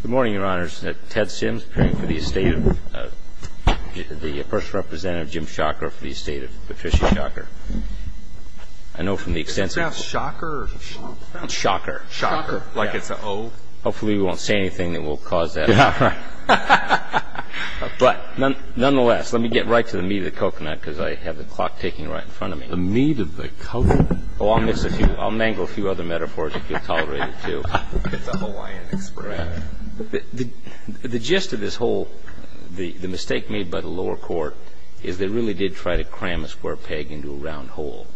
Good morning, Your Honors. Ted Sims, appearing for the estate of the First Representative, Jim Schacher, for the estate of Patricia Schacher. I know from the extensive... Is it pronounced Schacher or Schacher? Schacher. Schacher. Like it's an O? Hopefully we won't say anything that will cause that. Yeah, right. But, nonetheless, let me get right to the meat of the coconut, because I have the clock ticking right in front of me. The meat of the coconut? Oh, I'll miss a few. I'll mangle a few other metaphors if you'll tolerate it, too. It's a Hawaiian expression. The gist of this whole, the mistake made by the lower court is they really did try to cram a square peg into a round hole.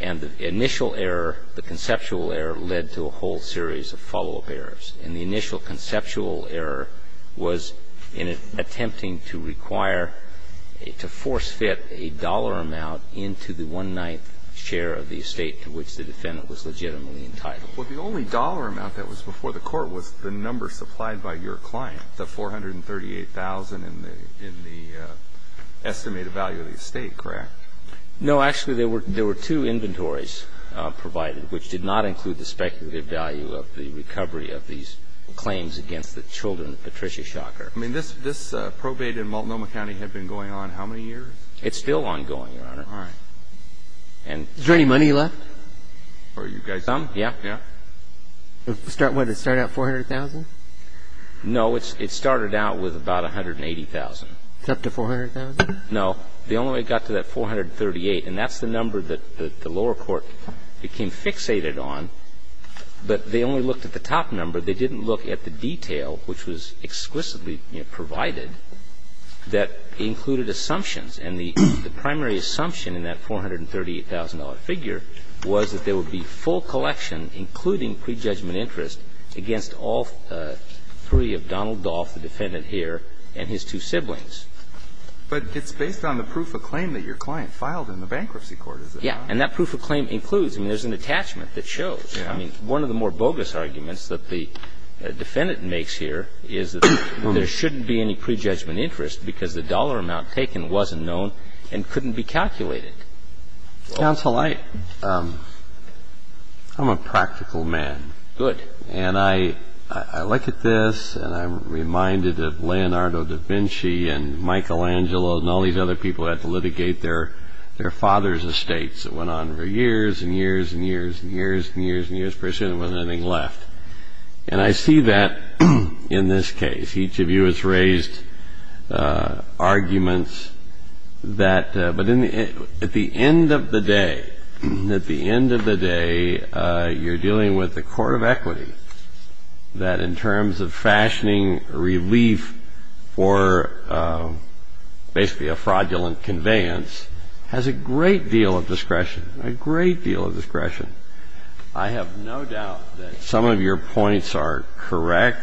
And the initial error, the conceptual error, led to a whole series of follow-up errors. And the initial conceptual error was in attempting to require, to force-fit a dollar amount into the one-ninth share of the estate to which the defendant was legitimately entitled. Well, the only dollar amount that was before the court was the number supplied by your client, the $438,000 in the estimated value of the estate, correct? No, actually, there were two inventories provided, which did not include the speculative value of the recovery of these claims against the children of Patricia Schacher. I mean, this probate in Multnomah County had been going on how many years? It's still ongoing, Your Honor. All right. Is there any money left? Are you guys? Some, yeah. Yeah? What, it started out $400,000? No, it started out with about $180,000. It's up to $400,000? No. They only got to that $438,000. And that's the number that the lower court became fixated on. But they only looked at the top number. They didn't look at the detail, which was exquisitely provided, that included assumptions. And the primary assumption in that $438,000 figure was that there would be full collection, including prejudgment interest, against all three of Donald Dolph, the defendant here, and his two siblings. But it's based on the proof of claim that your client filed in the bankruptcy court, is it not? Yeah. And that proof of claim includes. I mean, there's an attachment that shows. I mean, one of the more bogus arguments that the defendant makes here is that there shouldn't be any prejudgment interest, because the dollar amount taken wasn't known and couldn't be calculated. Counsel, I'm a practical man. Good. And I look at this, and I'm reminded of Leonardo da Vinci and Michelangelo and all these other people who had to litigate their father's estates. It went on for years and years and years and years and years and years. Pretty soon there wasn't anything left. And I see that in this case. Each of you has raised arguments that. But at the end of the day, at the end of the day, you're dealing with the court of equity, that in terms of fashioning relief for basically a fraudulent conveyance, has a great deal of discretion, a great deal of discretion. I have no doubt that some of your points are correct,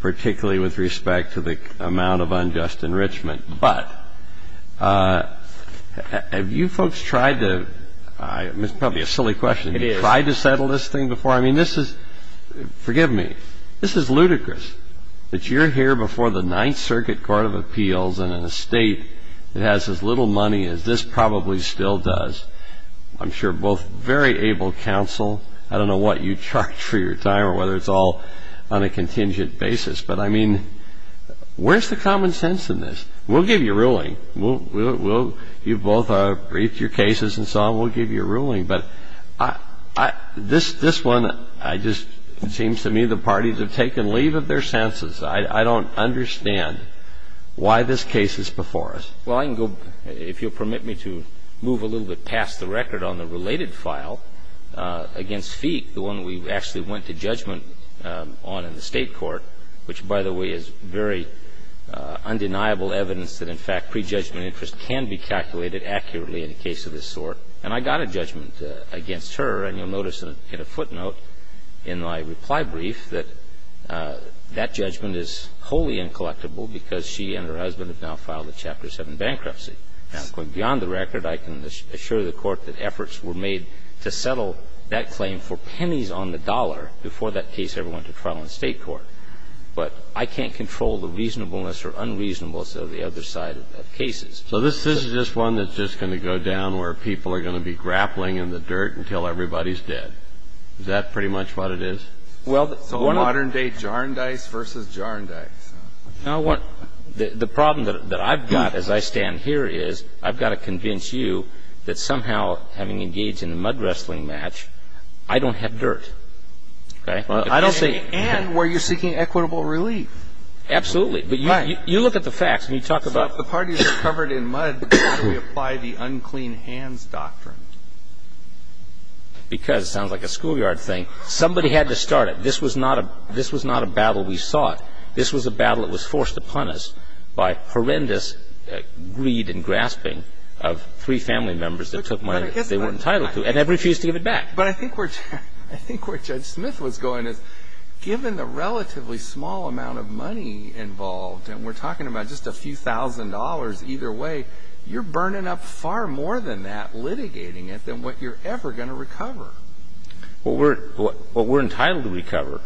particularly with respect to the amount of unjust enrichment. But have you folks tried to – this is probably a silly question. It is. Have you tried to settle this thing before? I mean, this is – forgive me. This is ludicrous that you're here before the Ninth Circuit Court of Appeals in an estate that has as little money as this probably still does. I'm sure both very able counsel. I don't know what you charge for your time or whether it's all on a contingent basis. But, I mean, where's the common sense in this? We'll give you a ruling. We'll – you both briefed your cases and so on. We'll give you a ruling. But this one, I just – it seems to me the parties have taken leave of their senses. I don't understand why this case is before us. Well, I can go – if you'll permit me to move a little bit past the record on the related file against Feig, the one we actually went to judgment on in the State Court, which, by the way, is very undeniable evidence that, in fact, prejudgment interest can be calculated accurately in a case of this sort. And I got a judgment against her. And you'll notice in a footnote in my reply brief that that judgment is wholly incollectible because she and her husband have now filed a Chapter 7 bankruptcy. Now, going beyond the record, I can assure the Court that efforts were made to settle that claim for pennies on the dollar before that case ever went to trial in the State Court. But I can't control the reasonableness or unreasonableness of the other side of cases. So this is just one that's just going to go down where people are going to be grappling in the dirt until everybody's dead. Is that pretty much what it is? So modern-day jar and dice versus jar and dice. The problem that I've got as I stand here is I've got to convince you that somehow, having engaged in a mud wrestling match, I don't have dirt. And were you seeking equitable relief? Absolutely. But you look at the facts. So if the parties are covered in mud, how do we apply the unclean hands doctrine? Because it sounds like a schoolyard thing. Somebody had to start it. This was not a battle we sought. This was a battle that was forced upon us by horrendous greed and grasping of three family members that took money that they weren't entitled to and have refused to give it back. But I think where Judge Smith was going is given the relatively small amount of money involved, and we're talking about just a few thousand dollars either way, you're burning up far more than that, litigating it, than what you're ever going to recover. What we're entitled to recover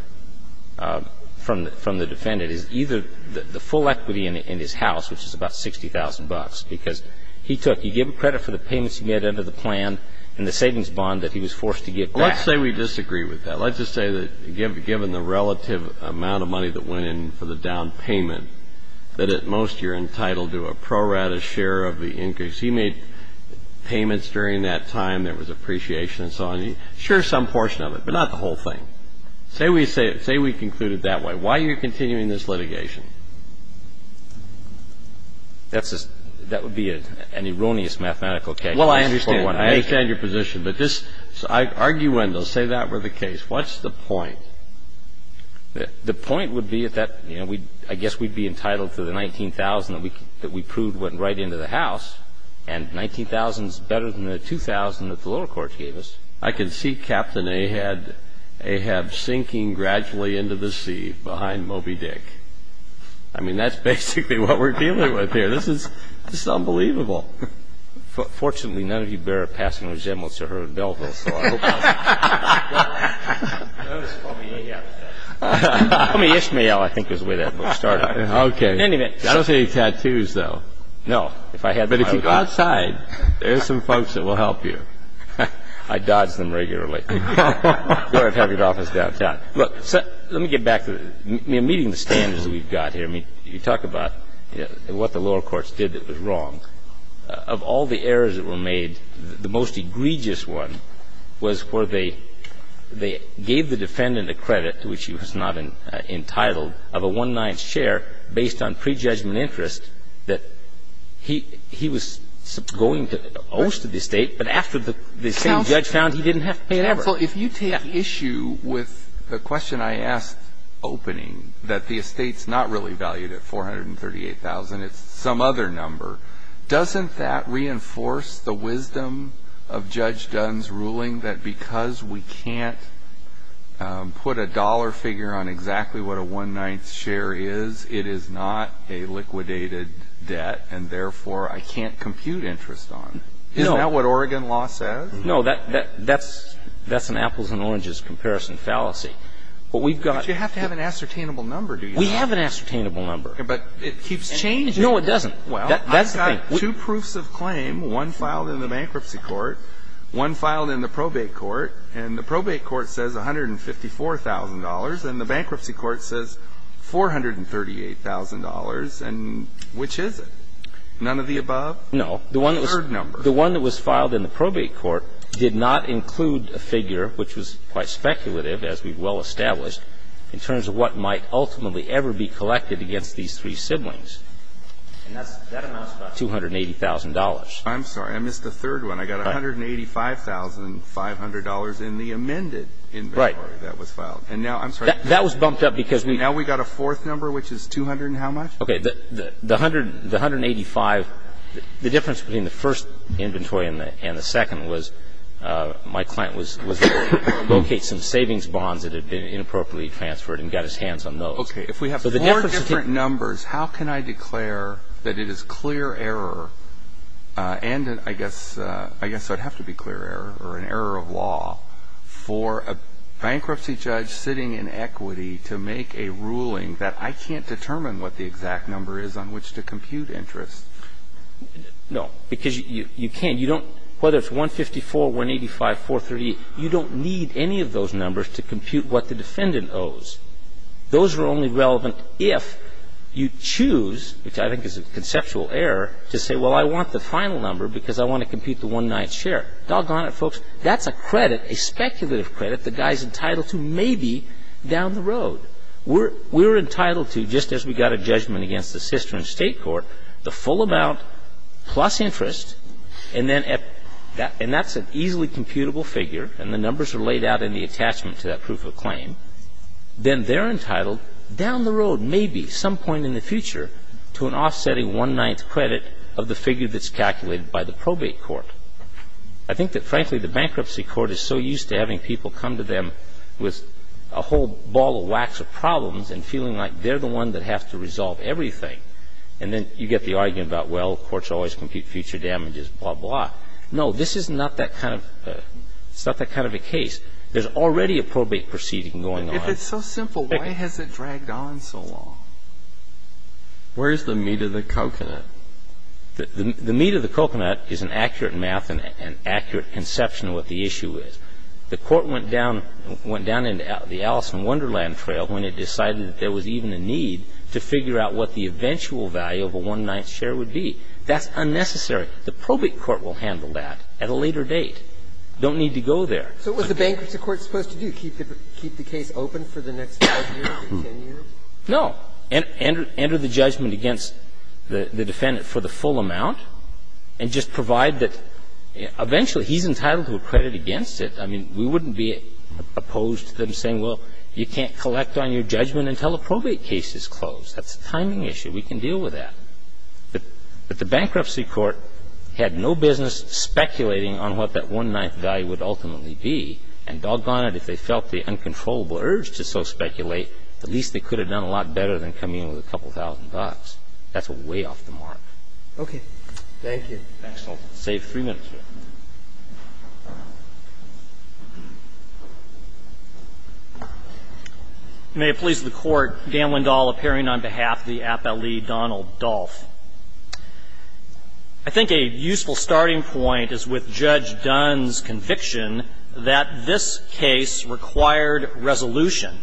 from the defendant is either the full equity in his house, which is about 60,000 bucks, because he took the credit for the payments he made under the plan and the savings bond that he was forced to give back. Well, let's say we disagree with that. Let's just say that given the relative amount of money that went in for the down payment that at most you're entitled to a pro rata share of the increase. He made payments during that time. There was appreciation and so on. Sure, some portion of it, but not the whole thing. Say we conclude it that way. Why are you continuing this litigation? That would be an erroneous mathematical case. Well, I understand. I understand your position. But this arguendo, say that were the case, what's the point? The point would be that I guess we'd be entitled to the 19,000 that we proved went right into the house. And 19,000 is better than the 2,000 that the lower courts gave us. I can see Captain Ahab sinking gradually into the sea behind Moby Dick. I mean, that's basically what we're dealing with here. This is unbelievable. Fortunately, none of you bear a passing resemblance to her in Belleville. So I hope I'll be able to help you out. Call me Ahab. Call me Ishmael, I think is the way that book started. Okay. I don't see any tattoos, though. No. But if you go outside, there are some folks that will help you. I dodge them regularly. Go and have your office downtown. Look, let me get back to meeting the standards that we've got here. I mean, you talk about what the lower courts did that was wrong. Of all the errors that were made, the most egregious one was where they gave the defendant a credit, which he was not entitled, of a one-ninth share based on prejudgment and interest that he was going to host the estate. But after the same judge found, he didn't have to pay ever. Counsel, if you take issue with the question I asked opening, that the estate's not really valued at $438,000, it's some other number, doesn't that reinforce the wisdom of Judge Dunn's ruling that because we can't put a dollar figure on exactly what a one-ninth share is, it is not a liquidated debt, and therefore, I can't compute interest on. No. Isn't that what Oregon law says? No. That's an apples and oranges comparison fallacy. But we've got to have an ascertainable number, do you know? We have an ascertainable number. But it keeps changing. No, it doesn't. Well, I've got two proofs of claim, one filed in the bankruptcy court, one filed in the probate court, and the probate court says $154,000, and the bankruptcy court says $438,000, and which is it? None of the above? No. The third number. The one that was filed in the probate court did not include a figure, which was quite speculative, as we've well established, in terms of what might ultimately ever be collected against these three siblings. And that amounts to about $280,000. I'm sorry. I missed the third one. I got $185,500 in the amended inventory that was filed. And now, I'm sorry. That was bumped up because we Now we've got a fourth number, which is $200,000 and how much? Okay. The $185,000, the difference between the first inventory and the second was my client was able to locate some savings bonds that had been inappropriately transferred and got his hands on those. Okay. If we have four different numbers, how can I declare that it is clear error, and I guess it would have to be clear error, or an error of law for a bankruptcy judge sitting in equity to make a ruling that I can't determine what the exact number is on which to compute interest? No. Because you can't. You don't, whether it's 154, 185, 438, you don't need any of those numbers to compute what the defendant owes. Those are only relevant if you choose, which I think is a conceptual error, to say, well, I want the final number because I want to compute the one-ninth share. Doggone it, folks. That's a credit, a speculative credit, the guy is entitled to maybe down the road. We're entitled to, just as we got a judgment against the Cistern State Court, the full amount plus interest, and that's an easily computable figure, and the numbers are laid out in the attachment to that proof of claim. Then they're entitled down the road, maybe some point in the future, to an offsetting one-ninth credit of the figure that's calculated by the probate court. I think that, frankly, the bankruptcy court is so used to having people come to them with a whole ball of wax of problems and feeling like they're the one that has to resolve everything, and then you get the argument about, well, courts always compute future damages, blah, blah. No. This is not that kind of a case. There's already a probate proceeding going on. But it's so simple. Why has it dragged on so long? Where's the meat of the coconut? The meat of the coconut is an accurate math and accurate conception of what the issue is. The Court went down into the Alice in Wonderland trail when it decided that there was even a need to figure out what the eventual value of a one-ninth share would be. That's unnecessary. The probate court will handle that at a later date. Don't need to go there. So what's the bankruptcy court supposed to do? Keep the case open for the next 5 years or 10 years? No. Enter the judgment against the defendant for the full amount and just provide that eventually he's entitled to a credit against it. I mean, we wouldn't be opposed to them saying, well, you can't collect on your judgment until the probate case is closed. That's a timing issue. We can deal with that. But the bankruptcy court had no business speculating on what that one-ninth value would ultimately be. And doggone it, if they felt the uncontrollable urge to so speculate, at least they could have done a lot better than coming in with a couple thousand bucks. That's way off the mark. Okay. Thank you. Thanks. I'll save 3 minutes here. May it please the Court. Dan Lindahl appearing on behalf of the appellee, Donald Dolph. I think a useful starting point is with Judge Dunn's conviction that this case required resolution.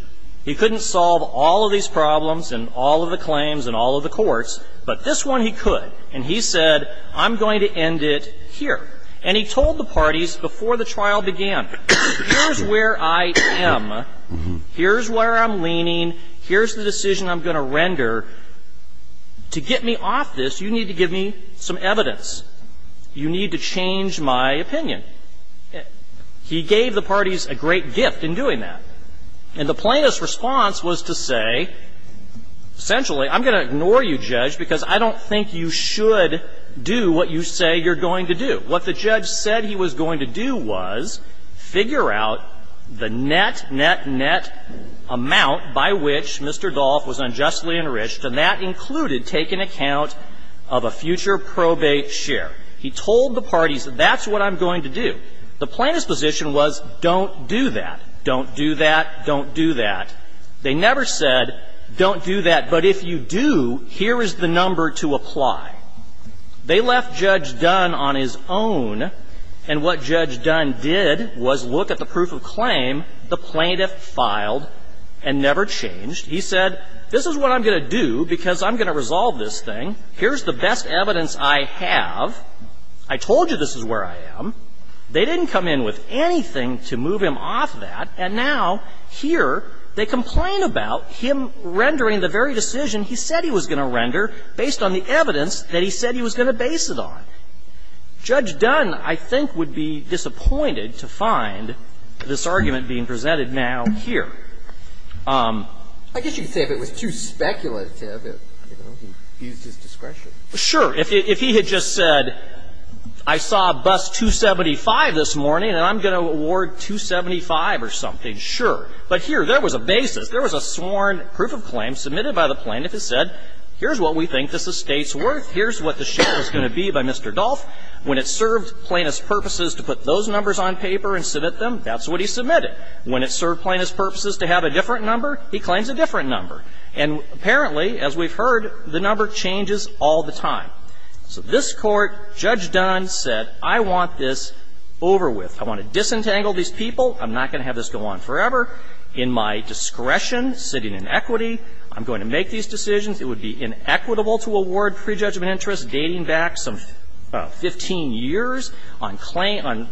He couldn't solve all of these problems and all of the claims and all of the courts, but this one he could. And he said, I'm going to end it here. And he told the parties before the trial began, here's where I am. Here's where I'm leaning. Here's the decision I'm going to render. To get me off this, you need to give me some evidence. You need to change my opinion. He gave the parties a great gift in doing that. And the plaintiff's response was to say, essentially, I'm going to ignore you, Judge, because I don't think you should do what you say you're going to do. What the judge said he was going to do was figure out the net, net, net amount by which Mr. Dolph was unjustly enriched, and that included taking account of a future probate share. He told the parties, that's what I'm going to do. The plaintiff's position was, don't do that. Don't do that. Don't do that. They never said, don't do that, but if you do, here is the number to apply. They left Judge Dunn on his own, and what Judge Dunn did was look at the proof of claim the plaintiff filed and never changed. He said, this is what I'm going to do, because I'm going to resolve this thing. Here's the best evidence I have. I told you this is where I am. They didn't come in with anything to move him off that. And now, here, they complain about him rendering the very decision he said he was going to render based on the evidence that he said he was going to base it on. Judge Dunn, I think, would be disappointed to find this argument being presented now here. I guess you could say if it was too speculative, you know, he used his discretion. Sure. If he had just said, I saw a bus 275 this morning and I'm going to award 275 or something, sure. But here, there was a basis. There was a sworn proof of claim submitted by the plaintiff that said, here's what we think this estate's worth. Here's what the share is going to be by Mr. Dolph. When it served plaintiff's purposes to put those numbers on paper and submit them, that's what he submitted. When it served plaintiff's purposes to have a different number, he claims a different number. And apparently, as we've heard, the number changes all the time. So this Court, Judge Dunn said, I want this over with. I want to disentangle these people. I'm not going to have this go on forever. In my discretion, sitting in equity, I'm going to make these decisions. It would be inequitable to award prejudgment interest dating back some 15 years on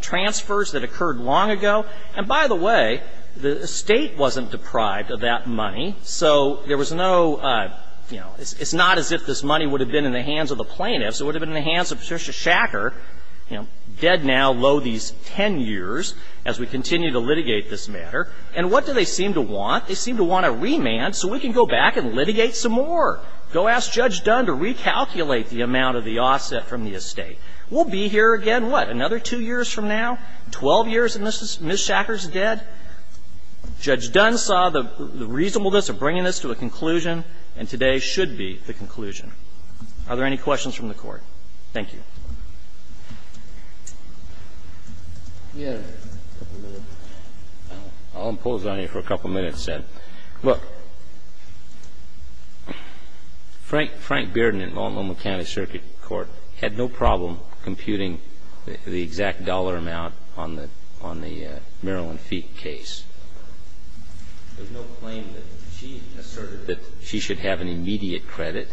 transfers that occurred long ago. And by the way, the estate wasn't deprived of that money, so there was no, you know, it's not as if this money would have been in the hands of the plaintiffs. It would have been in the hands of Patricia Shacker, you know, dead now, lo these 10 years as we continue to litigate this matter. And what do they seem to want? They seem to want a remand so we can go back and litigate some more. Go ask Judge Dunn to recalculate the amount of the offset from the estate. We'll be here again, what, another two years from now? Twelve years and Ms. Shacker's dead? Judge Dunn saw the reasonableness of bringing this to a conclusion, and today should be the conclusion. Are there any questions from the Court? Thank you. I'll impose on you for a couple minutes. Look, Frank Bearden in Multnomah County Circuit Court had no problem computing the exact dollar amount on the Marilyn Feig case. There's no claim that she asserted that she should have an immediate credit.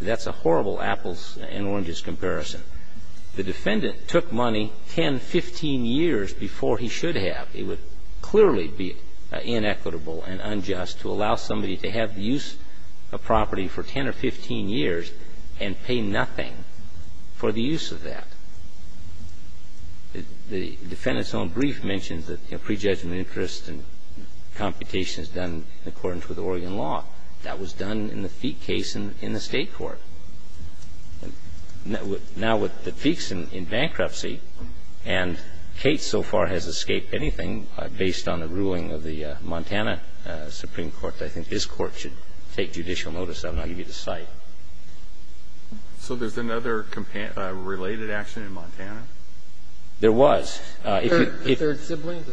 That's a horrible apples and oranges comparison. The defendant took money 10, 15 years before he should have. It would clearly be inequitable and unjust to allow somebody to have the use of property for 10 or 15 years and pay nothing for the use of that. The defendant's own brief mentions that prejudgment interest and computation is done in accordance with Oregon law. That was done in the Feig case in the State court. Now, with the Feig's in bankruptcy, and Kate so far has escaped anything based on the ruling of the Montana Supreme Court, I think this Court should take judicial notice of it. I'll give you the cite. So there's another related action in Montana? There was. The third sibling?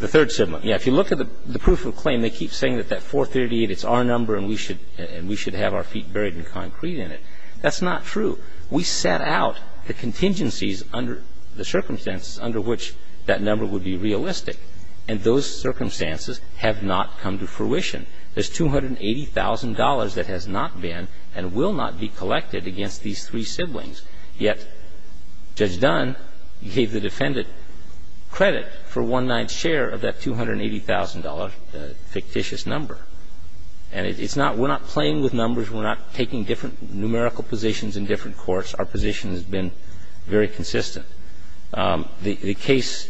The third sibling. If you look at the proof of claim, they keep saying that that 438, it's our number and we should have our feet buried in concrete in it. That's not true. We set out the contingencies under the circumstances under which that number would be realistic, and those circumstances have not come to fruition. There's $280,000 that has not been and will not be collected against these three siblings, yet Judge Dunn gave the defendant credit for one-ninth share of that $280,000 fictitious number. And it's not we're not playing with numbers. We're not taking different numerical positions in different courts. Our position has been very consistent. The case,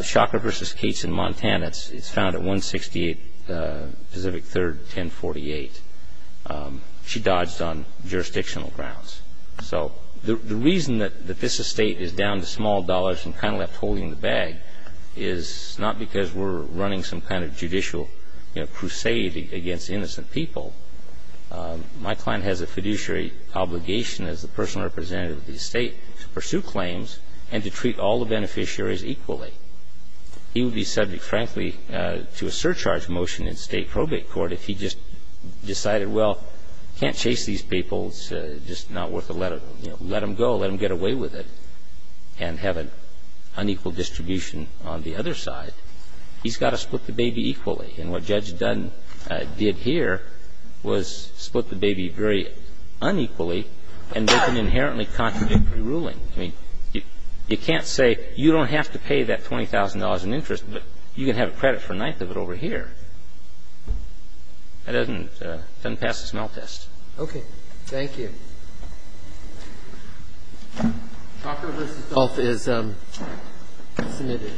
Shocker v. Cates in Montana, it's found at 168 Pacific 3rd, 1048. She dodged on jurisdictional grounds. So the reason that this estate is down to small dollars and kind of left holding the bag is not because we're running some kind of judicial, you know, crusade against innocent people. My client has a fiduciary obligation as the personal representative of the estate to pursue claims and to treat all the beneficiaries equally. He would be subject, frankly, to a surcharge motion in state probate court if he just decided, well, can't chase these people, it's just not worth it, let them go, let them get away with it, and have an unequal distribution on the other side. He's got to split the baby equally. And what Judge Dunn did here was split the baby very unequally and make an inherently contradictory ruling. I mean, you can't say you don't have to pay that $20,000 in interest, but you can have credit for a ninth of it over here. That doesn't pass the smell test. Okay. Thank you. Office submitted.